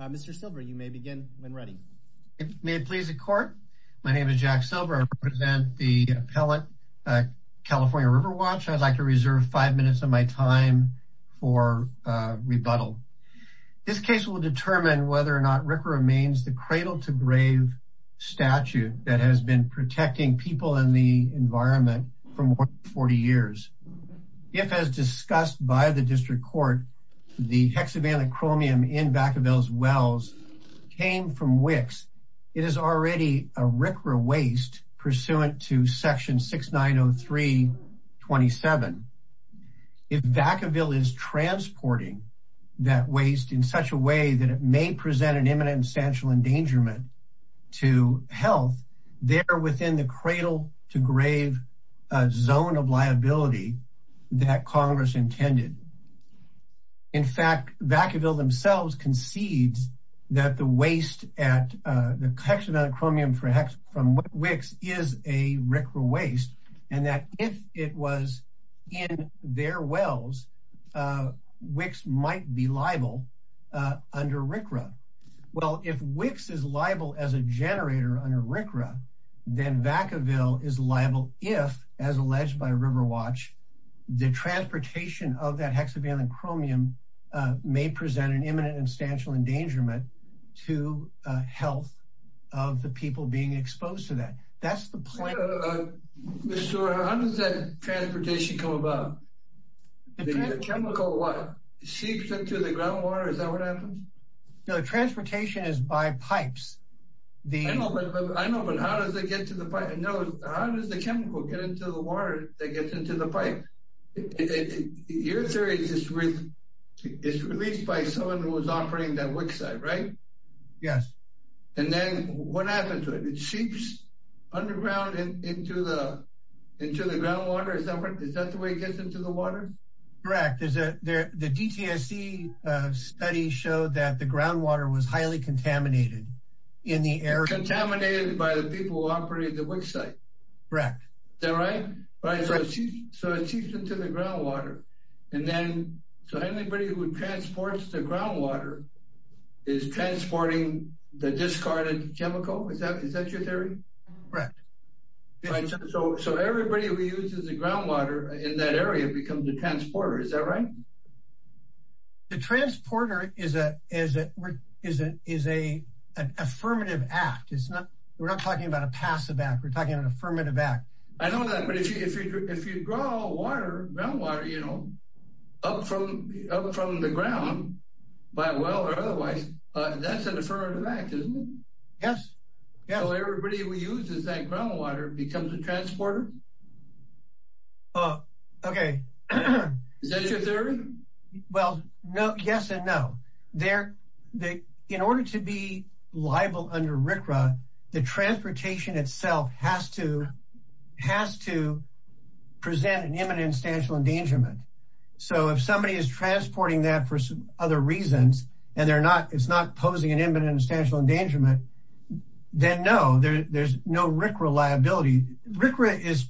Mr. Silver you may begin when ready. May it please the court. My name is Jack Silver. I represent the appellate California River Watch. I'd like to reserve five minutes of my time for rebuttal. This case will determine whether or not Rick remains the cradle-to-grave statute that has been protecting people in the environment for more than 40 years. If as discussed by the in Vacaville's wells came from Wicks, it is already a RCRA waste pursuant to section 6903-27. If Vacaville is transporting that waste in such a way that it may present an imminent and substantial endangerment to health, they're within the cradle-to-grave zone of liability that Congress intended. In themselves concedes that the waste at the hexavalent chromium from Wicks is a RCRA waste and that if it was in their wells, Wicks might be liable under RCRA. Well, if Wicks is liable as a generator under RCRA, then Vacaville is liable if as alleged by River Watch, the transportation of that hexavalent chromium may present an imminent and substantial endangerment to health of the people being exposed to that. That's the point. Mr. Stewart, how does that transportation come about? The chemical what, seeps into the groundwater? Is that what happens? No, transportation is by pipes. I know, but how does it get to the pipe? No, how does the chemical get into the pipe? Your theory is it's released by someone who was operating that Wicks site, right? Yes. And then what happens to it? It seeps underground into the groundwater. Is that the way it gets into the water? Correct. The DTSC study showed that the groundwater was highly contaminated in the area. Contaminated by the people who operated the Wicks site. Correct. Is that right? Right. So it seeps into the groundwater. And then so anybody who transports the groundwater is transporting the discarded chemical. Is that your theory? Correct. So everybody who uses the groundwater in that area becomes a transporter, is that right? The transporter is an affirmative act. It's not we're not talking about a passive act. We're talking an affirmative act. I know that. But if you draw water, groundwater, you know, up from the ground, by well or otherwise, that's an affirmative act, isn't it? Yes. So everybody who uses that groundwater becomes a transporter. Oh, OK. Is that your theory? Well, no. Yes and no. In order to be liable under RCRA, the transportation itself has to present an imminent substantial endangerment. So if somebody is transporting that for other reasons and it's not posing an imminent substantial endangerment, then no, there's no RCRA liability. RCRA is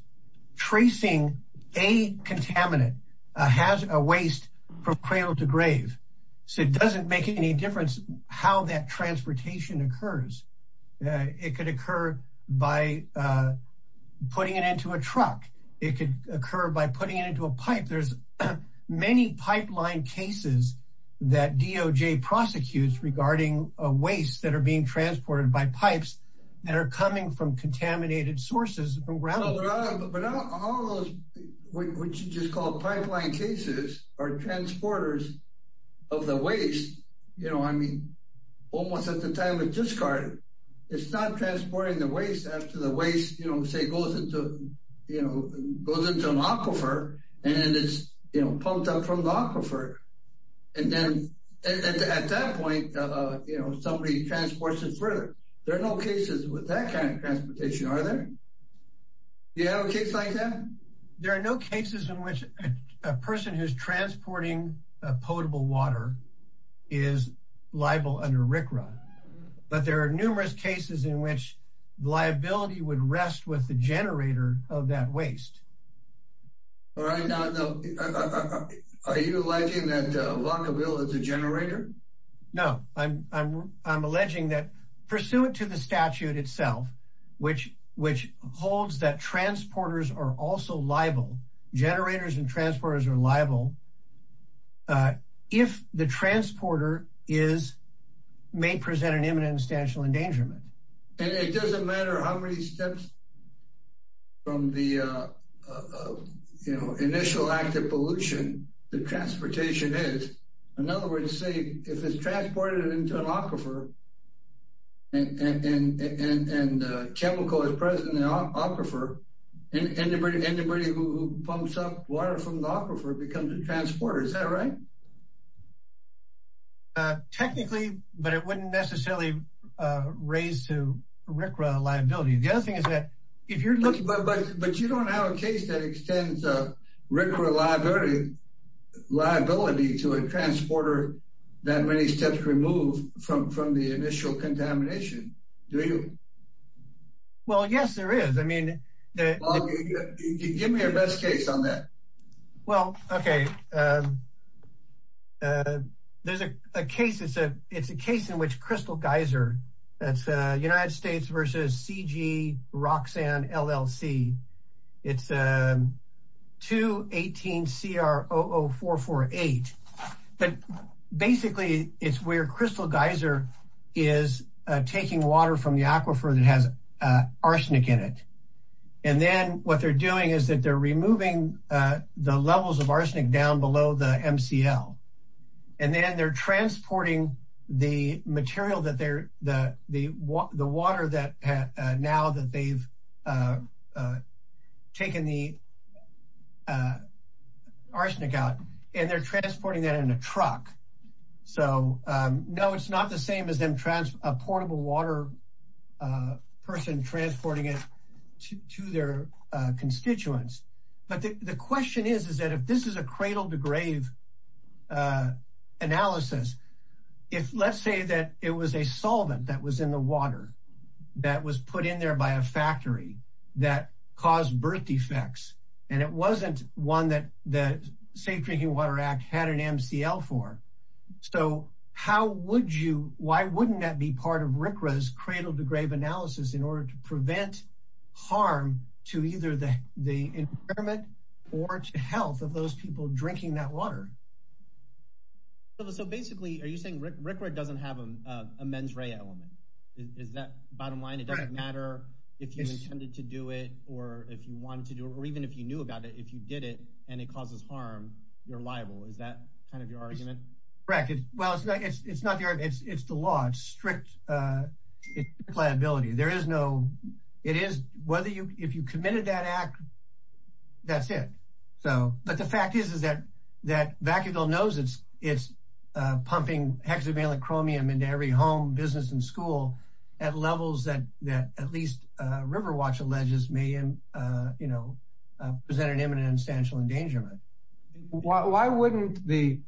tracing a contaminant, a waste from cradle to grave. So it doesn't make any difference how that transportation occurs. It could occur by putting it into a truck. It could occur by putting it into a pipe. There's many pipeline cases that DOJ prosecutes regarding a waste that are being transported by pipes that are coming from contaminated sources around. But not all of those, what you just call pipeline cases, are transporters of the waste. You know, I mean, almost at the time of discard, it's not transporting the waste after the waste, you know, say, goes into, you know, goes into an aquifer and it's pumped up from the aquifer. And then at that point, you know, somebody transports it further. There are no cases with that kind of transportation, are there? You have a case like that? There are no cases in which a person who's transporting potable water is liable under RCRA. But there are numerous cases in which liability would rest with the generator of that waste. All right, now, are you alleging that along the wheel of the generator? No, I'm alleging that pursuant to the statute itself, which holds that transporters are also liable, generators and transporters are liable, if the transporter is, may present an imminent substantial endangerment. And it doesn't matter how many steps from the, you know, initial active pollution the transportation is. In other words, say, if it's transported into an aquifer and chemical is present in aquifer and anybody who pumps up water from the aquifer becomes a transporter, is that right? Technically, but it wouldn't necessarily raise to RCRA liability. The other thing is that if you're looking... But you don't have a case that extends RCRA liability to a transporter that many steps removed from the initial contamination, do you? Well, yes, there is. I mean, give me your best case on that. Well, OK. There's a case, it's a case in which Crystal Geyser, that's United States versus CG Roxanne LLC. It's 218 CR 00448. But basically, it's where Crystal Geyser is taking water from the aquifer that has arsenic in it. And then what they're doing is that they're removing the levels of arsenic down below the MCL. And then they're transporting the material that they're the water that now that they've taken the arsenic out and they're transporting that in a truck. So, no, it's not the same as a portable water person transporting it to their constituents. But the question is, is that if this is a cradle to grave analysis, if let's say that it was a solvent that was in the water that was put in there by a factory that caused birth defects and it wasn't one that the Safe Drinking Water Act had an MCL for. So how would you why wouldn't that be part of RCRA's cradle to grave analysis in order to prevent harm to either the environment or to health of those people drinking that water? So basically, are you saying RCRA doesn't have a mens rea element? Is that bottom line? It doesn't matter if you intended to do it or if you wanted to do it or even if you knew about it, if you did it and it causes harm, you're liable. Is that kind of your argument? Correct. Well, it's not the argument. It's the law. It's strict. It's the pliability. There is no it is whether you if you committed that act, that's it. So but the fact is, is that that Vacaville knows it's it's pumping hexavalent chromium into every home, business and school at levels that that at least Riverwatch alleges may you know, present an imminent and substantial endangerment. Why wouldn't the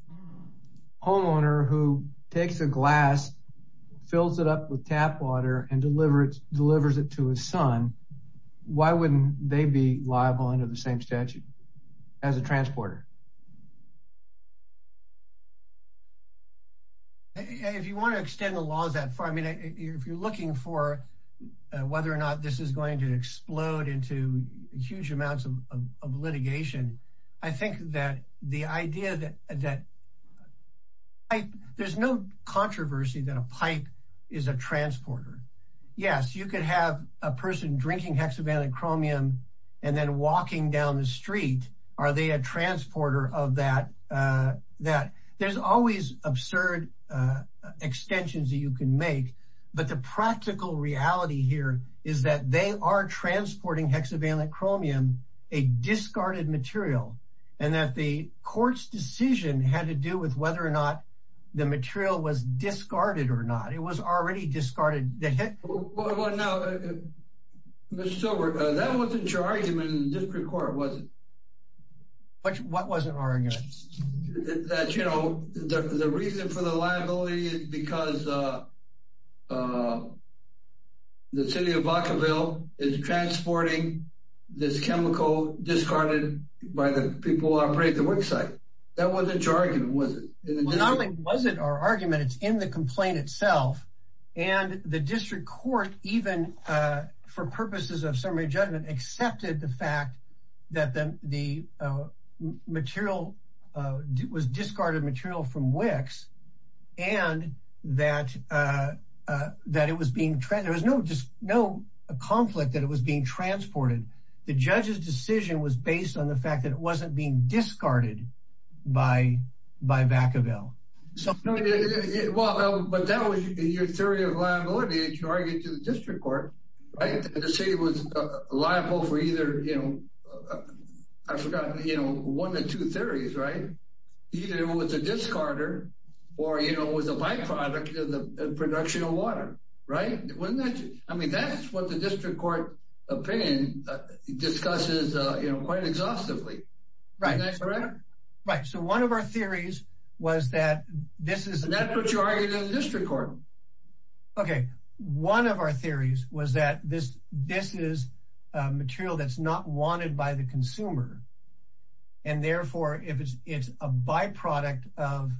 homeowner who takes a glass, fills it up with tap water and delivers delivers it to his son, why wouldn't they be liable under the same statute? As a transporter. If you want to extend the laws that far, I mean, if you're looking for whether or not this is going to explode into huge amounts of litigation, I think that the idea that there's no controversy that a pipe is a transporter. Yes, you could have a person drinking hexavalent chromium and then walking down the are they a transporter of that that there's always absurd extensions that you can make. But the practical reality here is that they are transporting hexavalent chromium, a discarded material, and that the court's decision had to do with whether or not the material was discarded or not. It was already discarded. Well, now, Mr. Silver, that wasn't your argument in the district court, was it? But what was an argument that, you know, the reason for the liability is because the city of Vacaville is transporting this chemical discarded by the people who operate the worksite. That wasn't your argument, was it? Not only was it our argument, it's in the complaint itself. And the district court, even for purposes of summary judgment, accepted the fact that the material was discarded material from Wicks and that that it was being there was no just no conflict that it was being transported. The judge's decision was based on the fact that it wasn't being discarded by by Vacaville. So, well, but that was your theory of liability, as you argued to the district court. The city was liable for either, you know, I forgot, you know, one of two theories, right? Either it was a discarder or, you know, it was a byproduct of the production of water. Right. I mean, that's what the district court opinion discusses, you know, quite exhaustively. Right. Right. So one of our theories was that this is what you argued in the district court. OK, one of our theories was that this this is material that's not wanted by the consumer. And therefore, if it's a byproduct of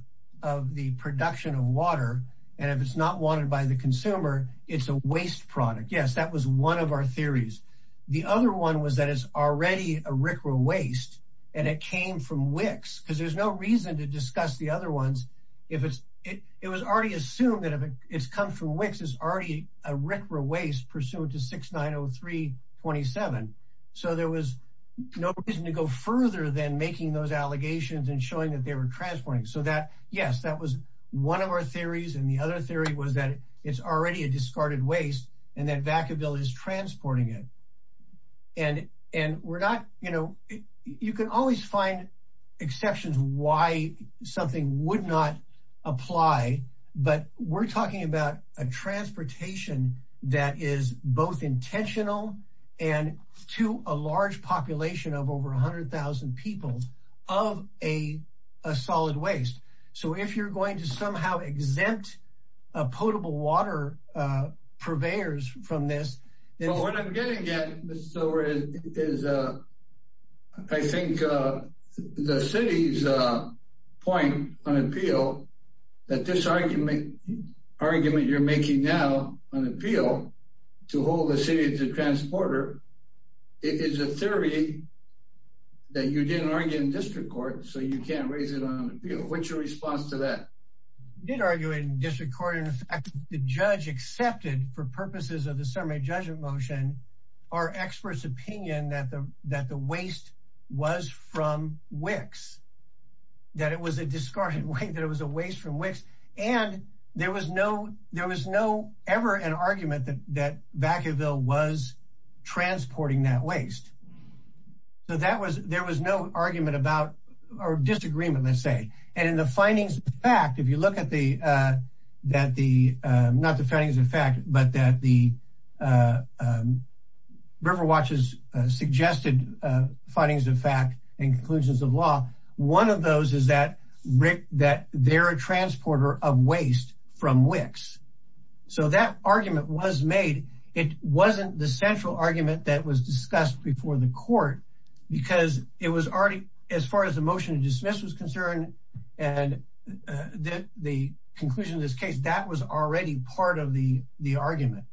of the production of water and if it's not wanted by the consumer, it's a waste product. Yes, that was one of our theories. The other one was that is already a waste and it came from Wicks because there's no reason to discuss the other ones. If it's it was already assumed that it's come from Wicks is already a waste pursuant to six nine oh three twenty seven. So there was no reason to go further than making those allegations and showing that they were transporting. So that yes, that was one of our theories. And the other theory was that it's already a discarded waste and that Vacaville is transporting it. And and we're not you know, you can always find exceptions why something would not apply. But we're talking about a transportation that is both intentional and to a large population of over 100000 people of a solid waste. So if you're going to somehow exempt a potable water purveyors from this. And what I'm getting at is I think the city's point on appeal that this argument argument you're making now on appeal to hold the city to transporter is a theory that you didn't argue in district court. So you can't raise it on appeal. What's your response to that? Did argue in district court. In fact, the judge accepted for purposes of the summary judgment motion, our experts opinion that the that the waste was from Wicks, that it was a discarded waste, that it was a waste from Wicks. And there was no there was no ever an argument that that Vacaville was transporting that waste. So that was there was no argument about or disagreement, let's say. And in the findings of fact, if you look at the that the not the findings of fact, but that the River Watch's suggested findings of fact and conclusions of law, one of those is that Rick that they're a transporter of waste from Wicks. So that argument was made. It wasn't the central argument that was discussed before the court because it was already as far as the motion to dismiss was concerned and the conclusion of this case, that was already part of the the argument.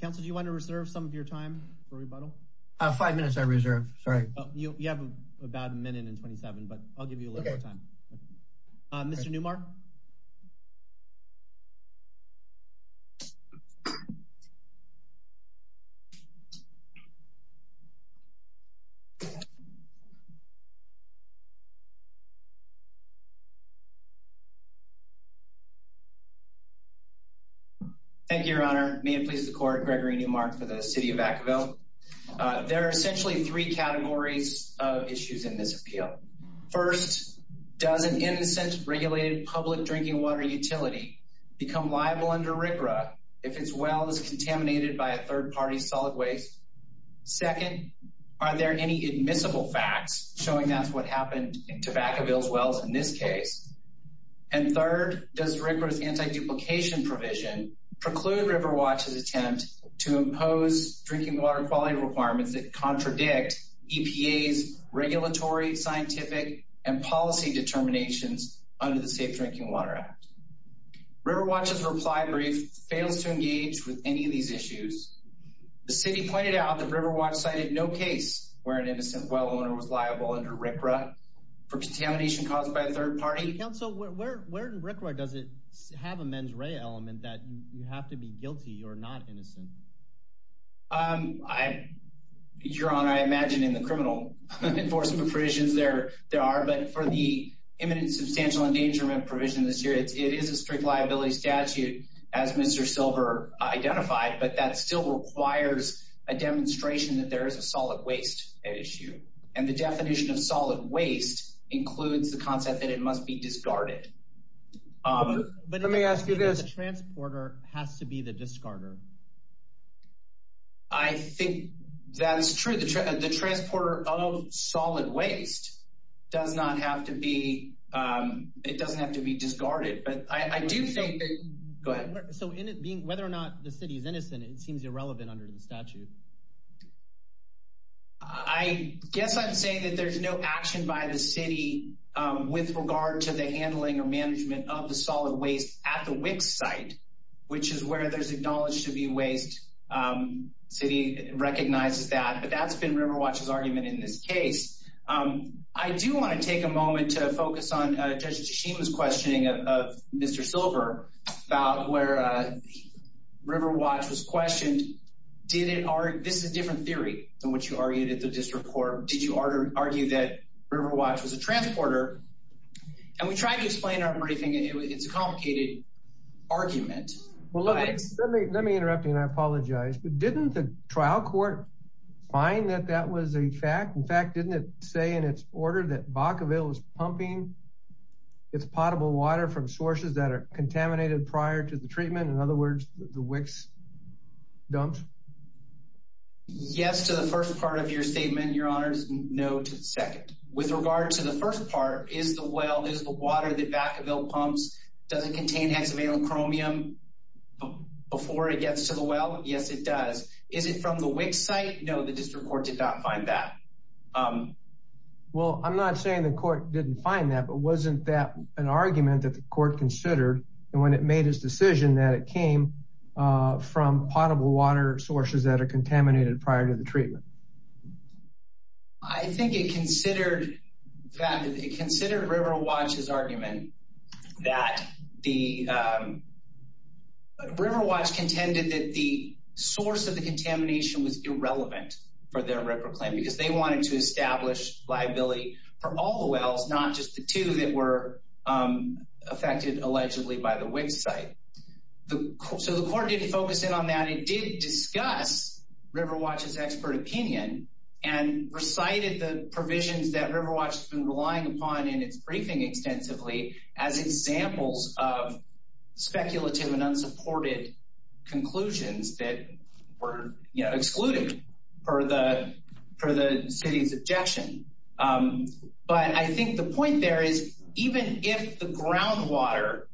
Counsel, do you want to reserve some of your time for rebuttal? Five minutes I reserve. Sorry. You have about a minute and twenty seven, but I'll give you a little more time. Mr. Newmark. Thank you, Your Honor. May it please the court. Gregory Newmark for the city of Vacaville. There are essentially three categories of issues in this appeal. First, does an innocent regulated public drinking water utility become liable under a third party solid waste? Second, are there any admissible facts showing that's what happened in tobacco bills? Well, in this case and third, does rigorous anti duplication provision preclude River Watch's attempt to impose drinking water quality requirements that contradict EPA's regulatory, scientific and policy determinations under the Safe Drinking Water Act? River Watch's reply brief fails to engage with any of these issues. The city pointed out that River Watch cited no case where an innocent well owner was liable under RCRA for contamination caused by a third party. Counsel, where in RCRA does it have a mens rea element that you have to be guilty or not innocent? Your Honor, I imagine in the criminal enforcement provisions there are, but for the drink liability statute, as Mr. Silver identified, but that still requires a demonstration that there is a solid waste issue. And the definition of solid waste includes the concept that it must be discarded. But let me ask you this, the transporter has to be the discarder. I think that's true. The transporter of solid waste does not have to be it doesn't have to be discarded. But I do think that. Go ahead. So whether or not the city is innocent, it seems irrelevant under the statute. I guess I'm saying that there's no action by the city with regard to the handling or management of the solid waste at the WIC site, which is where there's acknowledged to be waste. The city recognizes that. But that's been River Watch's argument in this case. I do want to take a moment to focus on Judge Tashima's questioning of Mr. Silver about where River Watch was questioned. Did it or this is a different theory than what you argued at the district court. Did you argue that River Watch was a transporter? And we tried to explain our briefing. It's a complicated argument. Well, let me let me interrupt you and I apologize. But didn't the trial court find that that was a fact? In fact, didn't it say in its order that Vacaville was pumping its potable water from sources that are contaminated prior to the treatment? In other words, the WIC's dumps. Yes, to the first part of your statement, your honors, no to the second. With regard to the first part, is the well is the water that Vacaville pumps, does it contain hexavalent chromium before it gets to the well? Yes, it does. Is it from the WIC site? No, the district court did not find that. Um, well, I'm not saying the court didn't find that, but wasn't that an argument that the court considered when it made his decision that it came from potable water sources that are contaminated prior to the treatment? I think it considered that it considered River Watch's argument that the River Watch contended that the source of the contamination was irrelevant for their record claim because they wanted to establish liability for all the wells, not just the two that were affected allegedly by the WIC site. So the court didn't focus in on that. It did discuss River Watch's expert opinion and recited the provisions that River Watch has been relying upon in its briefing extensively as examples of speculative and the city's objection. But I think the point there is even if the groundwater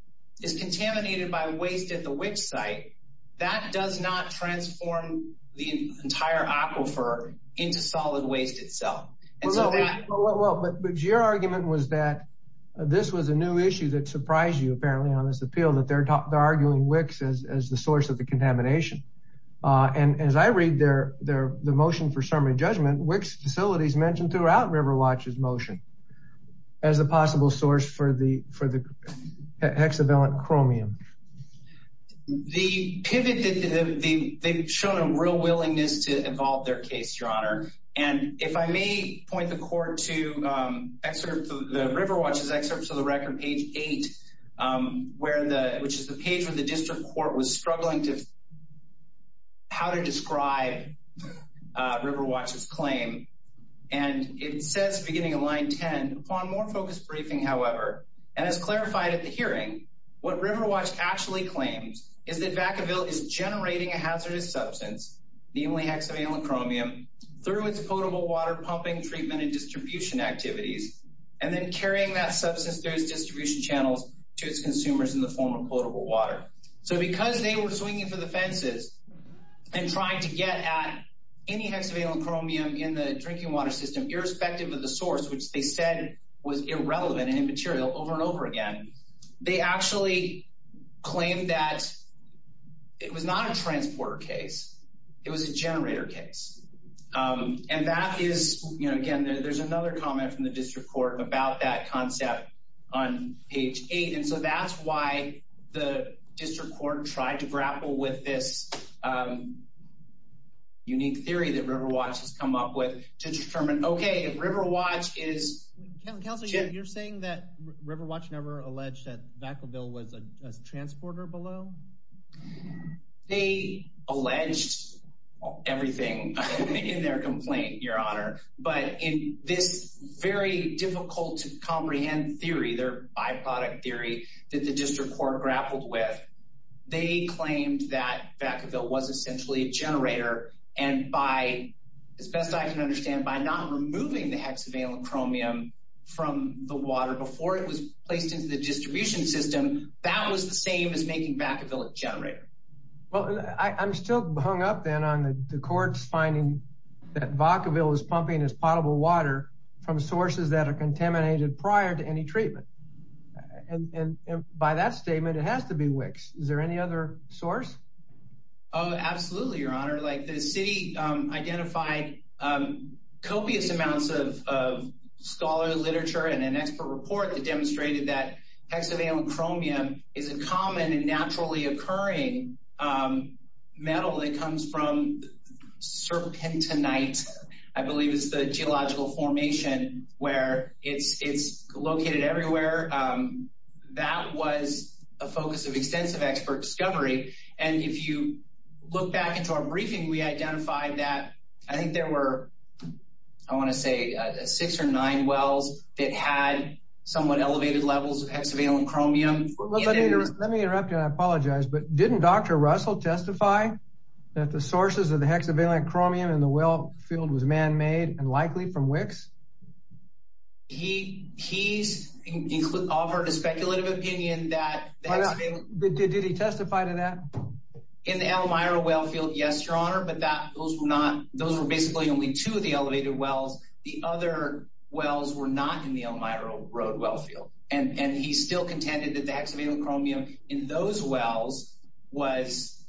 is contaminated by waste at the WIC site, that does not transform the entire aquifer into solid waste itself. And so that... Well, but your argument was that this was a new issue that surprised you, apparently, on this appeal, that they're arguing WIC as the source of the contamination. And as I read the motion for summary judgment, WIC's facilities mentioned throughout River Watch's motion as a possible source for the hexavalent chromium. The pivot that they've shown a real willingness to evolve their case, Your Honor. And if I may point the court to the River Watch's excerpt to the record, page eight, which is the page where the district court was struggling to how to describe River Watch's claim. And it says, beginning of line 10, upon more focused briefing, however, and as clarified at the hearing, what River Watch actually claims is that Vacaville is generating a hazardous substance, namely hexavalent chromium, through its potable water pumping, treatment and distribution activities, and then carrying that substance through its distribution channels to its consumers in the form of potable water. So because they were swinging for the fences and trying to get at any hexavalent chromium in the drinking water system, irrespective of the source, which they said was irrelevant and immaterial over and over again, they actually claimed that it was not a transporter case. It was a generator case. And that is, you know, again, there's another comment from the district court about that concept on page eight. And so that's why the district court tried to grapple with this unique theory that River Watch has come up with to determine, OK, if River Watch is. Counselor, you're saying that River Watch never alleged that Vacaville was a transporter below? They alleged everything. In their complaint, Your Honor. But in this very difficult to comprehend theory, their byproduct theory that the district court grappled with, they claimed that Vacaville was essentially a generator. And by as best I can understand, by not removing the hexavalent chromium from the water before it was placed into the distribution system, that was the same as making Vacaville a generator. Well, I'm still hung up then on the court's finding that Vacaville is pumping as potable water from sources that are contaminated prior to any treatment. And by that statement, it has to be Wicks. Is there any other source? Oh, absolutely, Your Honor. Like the city identified copious amounts of scholar literature and an expert report that demonstrated that hexavalent chromium is a common and naturally occurring metal that comes from serpentinite, I believe is the geological formation where it's located everywhere. That was a focus of extensive expert discovery. And if you look back into our briefing, we identified that I think there were, I want to say, six or nine wells that had somewhat elevated levels of hexavalent chromium. Let me interrupt you, and I apologize, but didn't Dr. Russell testify that the sources of the hexavalent chromium in the well field was man-made and likely from Wicks? He offered a speculative opinion that... Did he testify to that? In the Elmira well field, yes, Your Honor, but those were basically only two of the elevated wells. The other wells were not in the Elmira road well field. And he still contended that the hexavalent chromium in those wells was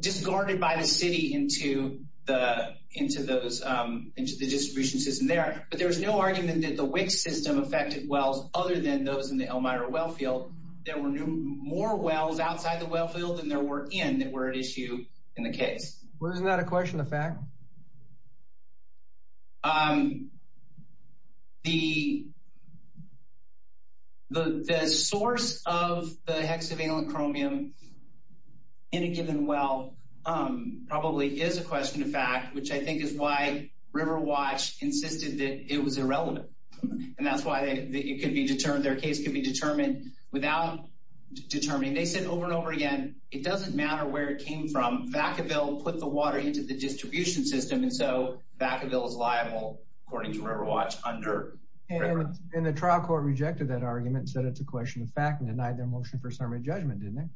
discarded by the city into the distribution system there. But there was no argument that the Wicks system affected wells other than those in the Elmira well field. There were more wells outside the well field than there were in that were at issue in the case. Well, isn't that a question of fact? The source of the hexavalent chromium in a given well probably is a question of fact, which I think is why River Watch insisted that it was irrelevant. And that's why it could be determined, their case could be determined without determining. They said over and over again, it doesn't matter where it came from. Vacaville put the water into the distribution system. And so Vacaville is liable, according to River Watch, under River Watch. And the trial court rejected that argument, said it's a question of fact, and denied their motion for summary judgment, didn't it?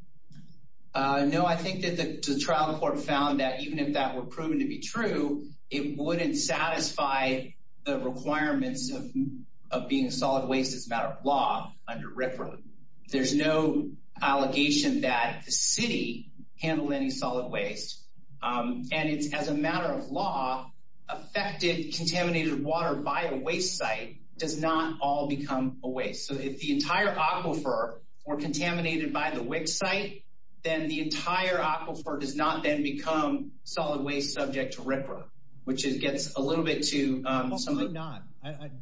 No, I think that the trial court found that even if that were proven to be true, it wouldn't satisfy the requirements of being a solid waste as a matter of law under RFRA. There's no allegation that the city handled any solid waste. And it's as a matter of law, affected contaminated water by a waste site does not all become a waste. So if the entire aquifer were contaminated by the WIC site, then the entire aquifer does not then become solid waste subject to RFRA, which it gets a little bit too. Hopefully not.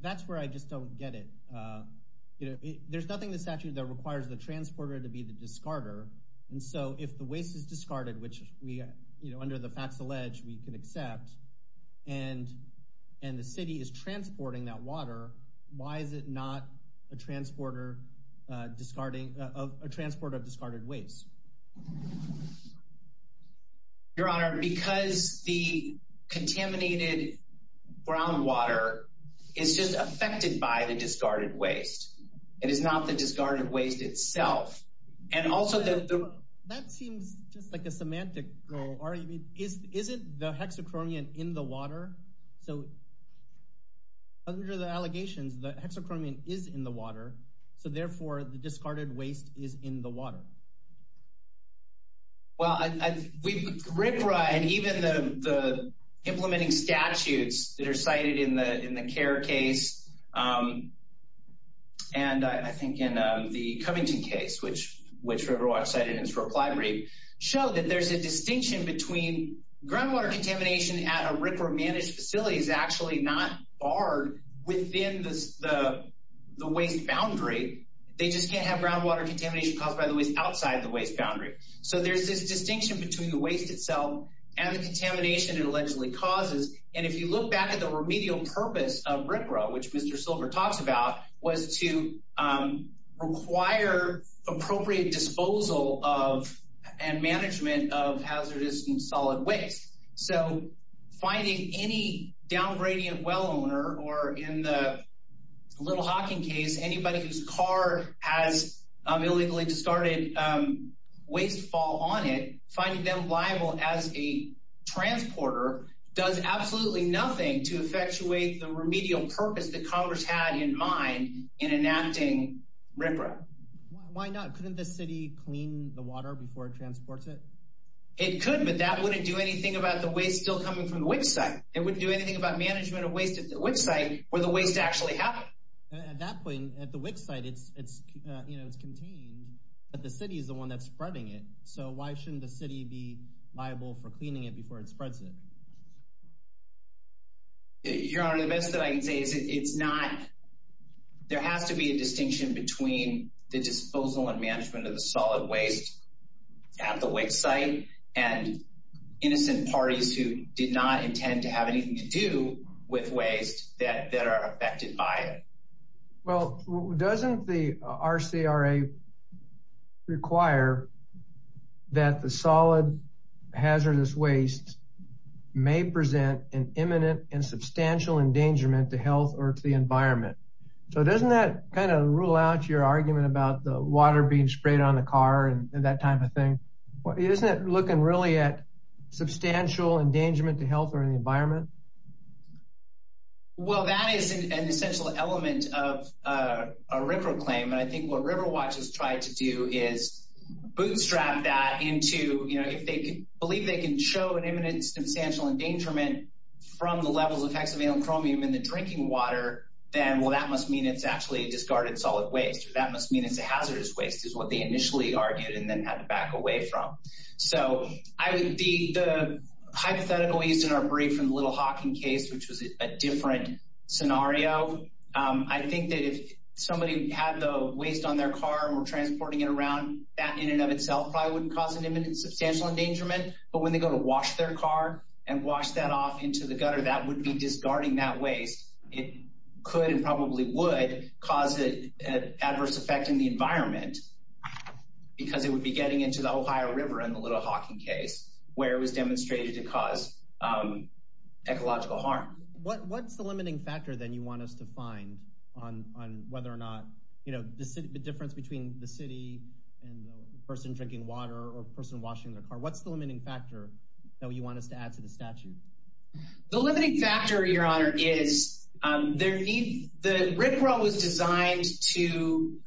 That's where I just don't get it. You know, there's nothing in the statute that requires the transporter to be the discarder. And so if the waste is discarded, which we, you know, under the facts alleged we can accept, and the city is transporting that water, why is it not a transporter of discarded waste? Your Honor, because the contaminated groundwater is just affected by the discarded waste, it is not the discarded waste itself. And also, that seems just like a semantical argument, isn't the hexachromium in the water? So under the allegations, the hexachromium is in the water. So therefore, the discarded waste is in the water. Well, RFRA and even the implementing statutes that are cited in the CARE case, and I think in the Covington case, which Riverwatch cited in its reply brief, show that there's a distinction between groundwater contamination at a RFRA managed facility is actually not barred within the waste boundary. They just can't have groundwater contamination caused by the waste outside the waste boundary. So there's this distinction between the waste itself and the contamination it allegedly causes. And if you look back at the remedial purpose of RFRA, which Mr. Silver talks about, was to require appropriate disposal of and management of hazardous and solid waste. So finding any downgradient well owner or in the Little Hocking case, anybody whose car has illegally discarded waste fall on it, finding them liable as a transporter does absolutely nothing to effectuate the remedial purpose that Congress had in mind in enacting RFRA. Why not? Couldn't the city clean the water before it transports it? It could, but that wouldn't do anything about the waste still coming from the WIC site. It wouldn't do anything about management of waste at the WIC site where the waste actually happened. At that point, at the WIC site, it's contained, but the city is the one that's spreading it. So why shouldn't the city be liable for cleaning it before it spreads it? Your Honor, the best that I can say is there has to be a distinction between the disposal and management of solid waste at the WIC site and innocent parties who did not intend to have anything to do with waste that are affected by it. Well, doesn't the RCRA require that the solid hazardous waste may present an imminent and substantial endangerment to health or to the environment? So doesn't that kind of rule out your argument about the water being sprayed on the car and that type of thing? Isn't it looking really at substantial endangerment to health or in the environment? Well, that is an essential element of a RCRA claim. And I think what RiverWatch has tried to do is bootstrap that into, you know, if they believe they can show an imminent and substantial endangerment from the levels of hexavalent chromium in the drinking water, then, well, that must mean it's actually discarded solid waste or that must mean it's a hazardous waste is what they initially argued and then had to back away from. So I would be the hypothetical used in our brief from the Little Hawking case, which was a different scenario. I think that if somebody had the waste on their car and we're transporting it around, that in and of itself probably wouldn't cause an imminent and substantial endangerment. But when they go to wash their car and wash that off into the gutter, that would be discarding that waste. It could and probably would cause an adverse effect in the environment because it would be getting into the Ohio River in the Little Hawking case where it was demonstrated to cause ecological harm. What's the limiting factor then you want us to find on whether or not, you know, the difference between the city and the person drinking water or a person washing their car? What's the limiting factor that you want us to add to the statute? The limiting factor, Your Honor, is there need the RIPRA was designed to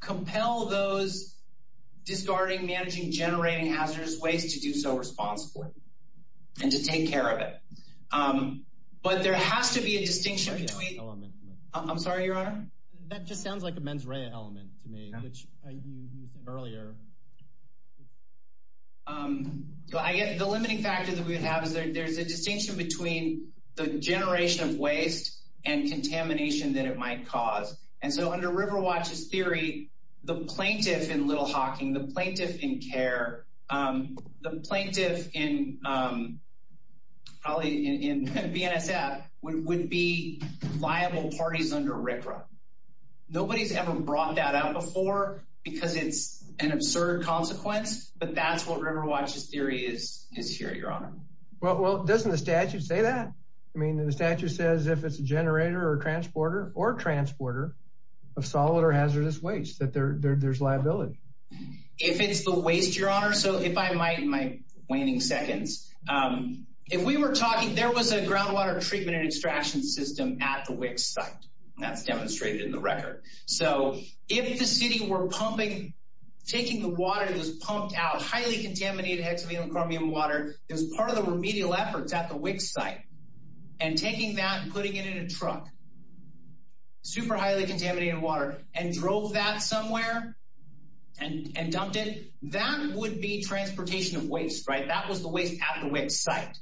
compel those discarding, managing, generating hazardous waste to do so responsibly and to take care of it. But there has to be a distinction. I'm sorry, Your Honor, that just sounds like a mens rea element to me, which you said earlier. I get the limiting factor that we have is that there's a distinction between the generation of waste and contamination that it might cause. And so under River Watch's theory, the plaintiff in Little Hawking, the plaintiff in CARE, the plaintiff in probably in BNSF would be liable parties under RIPRA. Nobody's ever brought that out before because it's an absurd consequence. But that's what River Watch's theory is here, Your Honor. Well, well, doesn't the statute say that? I mean, the statute says if it's a generator or transporter or transporter of solid or hazardous waste, that there's liability. If it's the waste, Your Honor. So if I might, my waning seconds, if we were talking, there was a groundwater treatment and extraction system at the WIC site that's demonstrated in the record. So if the city were pumping, taking the water that was pumped out, highly contaminated hexavalent chromium water, it was part of the remedial efforts at the WIC site. And taking that and putting it in a truck, super highly contaminated water, and drove that somewhere and dumped it, that would be transportation of waste, right? That was the waste at the WIC site.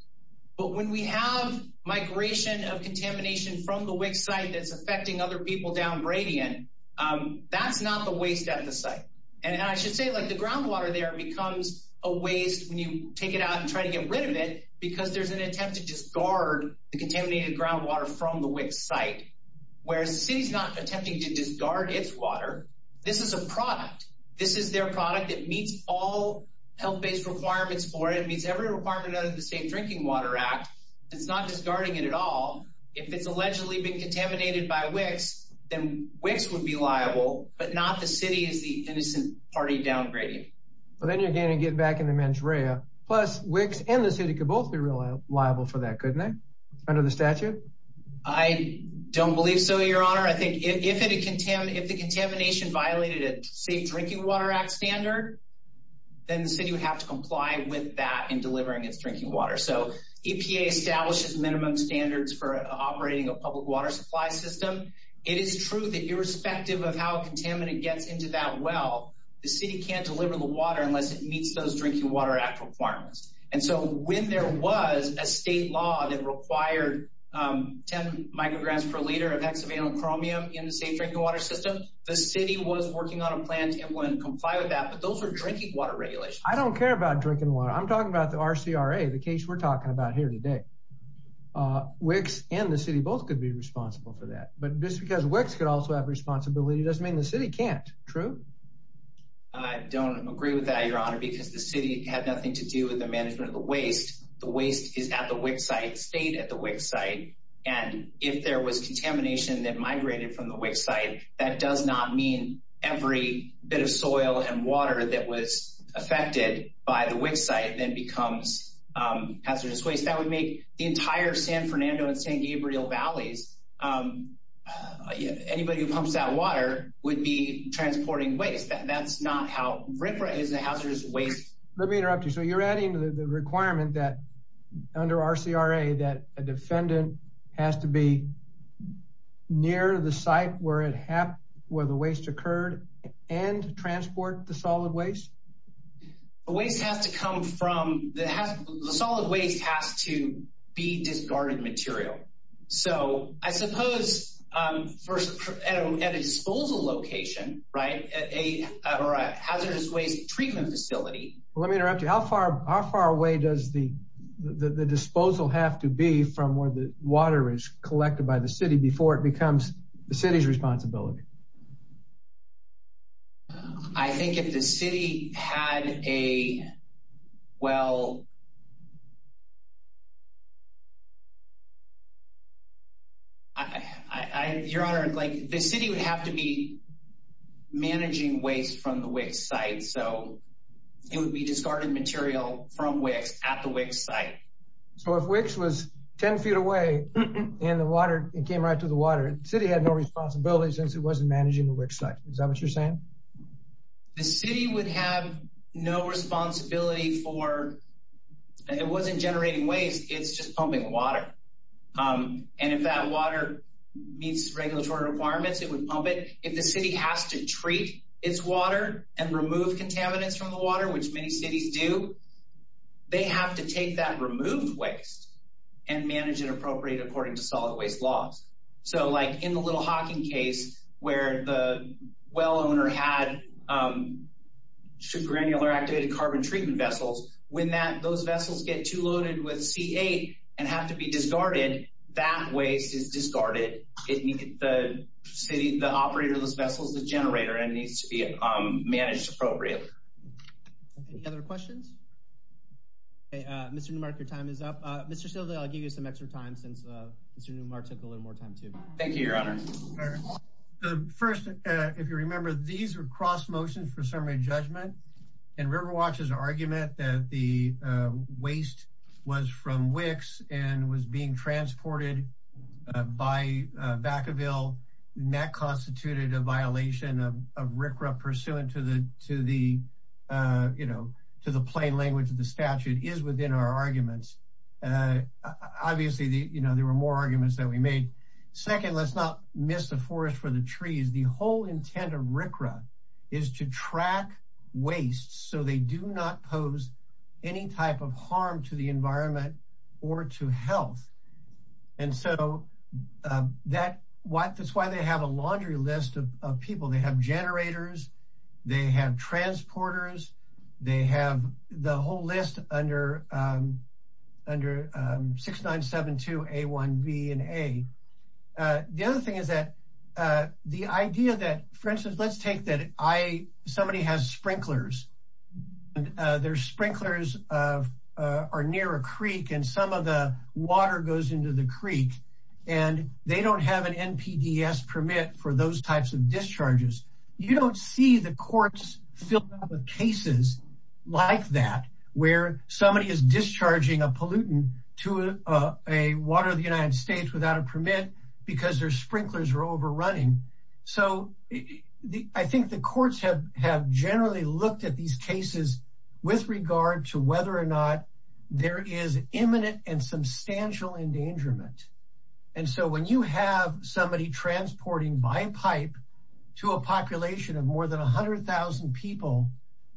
But when we have migration of contamination from the WIC site that's affecting other people down Bradian, that's not the waste at the site. And I should say, like, the groundwater there becomes a waste when you take it out and try to get rid of it because there's an attempt to just guard the contaminated groundwater from the WIC site, whereas the city's not attempting to just guard its water. This is a product. This is their product that meets all health based requirements for it, meets every requirement of the Safe Drinking Water Act. It's not just guarding it at all. If it's allegedly been contaminated by WICs, then WICs would be liable, but not the city as the innocent party down Bradian. Well, then you're going to get back in the mens rea, plus WICs and the city could both be liable for that, couldn't they, under the statute? I don't believe so, your honor. I think if the contamination violated a Safe Drinking Water Act standard, then the city would have to comply with that in delivering its drinking water. So EPA establishes minimum standards for operating a public water supply system. It is true that irrespective of how contaminant gets into that well, the city can't deliver the water unless it meets those Drinking Water Act requirements. And so when there was a state law that required 10 micrograms per liter of hexavalent chromium in the safe drinking water system, the city was working on a plan to comply with that. But those are drinking water regulations. I don't care about drinking water. I'm talking about the RCRA, the case we're talking about here today. WICs and the city both could be responsible for that. But just because WICs could also have responsibility doesn't mean the city can't. True? I don't agree with that, your honor, because the city had nothing to do with the management of the waste. The waste is at the WIC site, stayed at the WIC site. And if there was contamination that migrated from the WIC site, that does not mean every bit of soil and water that was affected by the WIC site then becomes hazardous waste. That would make the entire San Fernando and San Gabriel Valleys. Anybody who pumps out water would be transporting waste. That's not how RIFRA is a hazardous waste. Let me interrupt you. So you're adding to the requirement that under RCRA, that a defendant has to be near the site where it happened, where the waste occurred and transport the solid waste? The waste has to come from the solid waste has to be discarded material. So I suppose at a disposal location, right, or a hazardous waste treatment facility. Let me interrupt you. How far away does the disposal have to be from where the water is collected by the city before it becomes the city's responsibility? I think if the city had a well. Your Honor, like the city would have to be managing waste from the WIC site, so it would be discarded material from WIC at the WIC site. So if WIC was 10 feet away in the water, it came right to the water, the city had no responsibility since it wasn't managing the WIC site. Is that what you're saying? The city would have no responsibility for it wasn't generating waste. It's just pumping water. And if that water meets regulatory requirements, it would pump it. If the city has to treat its water and remove contaminants from the water, which many cities do, they have to take that removed waste and manage it appropriately according to solid waste laws. So like in the Little Hocking case where the well owner had super granular activated carbon treatment vessels, when those vessels get too loaded with C8 and have to be discarded, that waste is discarded. It needs the city, the operator of those vessels, the generator, and needs to be managed appropriately. Any other questions? Okay, Mr. Newmark, your time is up. Mr. Stilwell, I'll give you some extra time since Mr. Newmark took a little more time, too. Thank you, Your Honor. First, if you remember, these are cross motions for summary judgment. And Riverwatch's argument that the waste was from WICs and was being transported by Vacaville, that constituted a violation of RCRA pursuant to the you know, to the plain language of the statute is within our arguments. Obviously, you know, there were more arguments that we made. Second, let's not miss the forest for the trees. The whole intent of RCRA is to track waste so they do not pose any type of harm to the environment or to health. And so that's why they have a laundry list of people. They have generators, they have transporters, they have the whole list under 6972A1B and A. The other thing is that the idea that, for instance, let's take that somebody has sprinklers and their sprinklers are near a creek and some of the water goes into the creek and they don't have an NPDES permit for those types of discharges. You don't see the courts filled out with cases like that, where somebody is discharging a pollutant to a water of the United States without a permit because their sprinklers are overrunning. So I think the courts have generally looked at these cases with regard to whether or not there is imminent and substantial endangerment. And so when you have somebody transporting by pipe to a population of more than 100,000 people,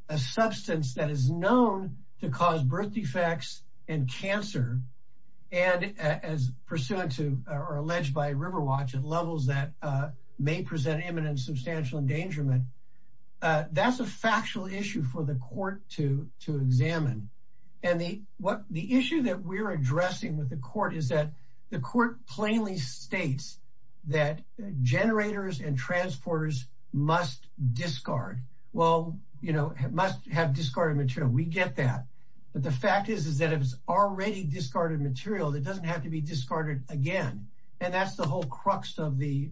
a substance that is known to cause birth defects and cancer, and as pursuant to or alleged by Riverwatch at levels that may present imminent substantial endangerment, that's a factual issue for the court to examine. And the issue that we're addressing with the court is that the court plainly states that generators and transporters must discard. Well, you know, it must have discarded material. We get that. But the fact is, is that if it's already discarded material, it doesn't have to be discarded again. And that's the whole crux of the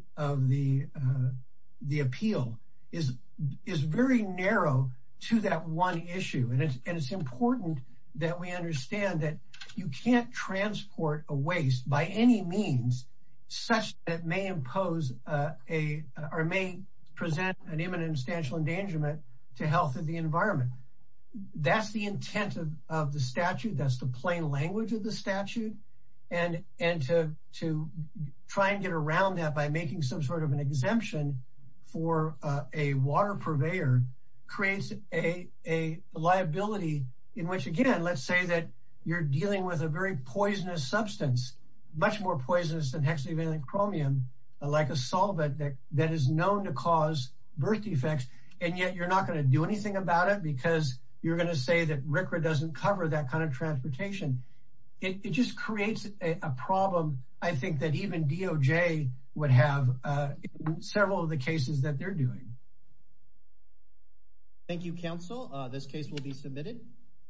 appeal is very narrow to that one issue. And it's important that we understand that you can't transport a waste by any means such that may impose or may present an imminent and substantial endangerment to health of the environment. That's the intent of the statute. That's the plain language of the statute. And to try and get around that by making some sort of an exemption for a water purveyor creates a liability in which, again, let's say that you're dealing with a very poisonous substance, much more poisonous than hexavalent chromium, like a solvent that is known to cause birth defects. And yet you're not going to do anything about it because you're going to say that RCRA doesn't cover that kind of transportation. It just creates a problem, I think, that even DOJ would have several of the cases that they're doing. Thank you, counsel. This case will be submitted.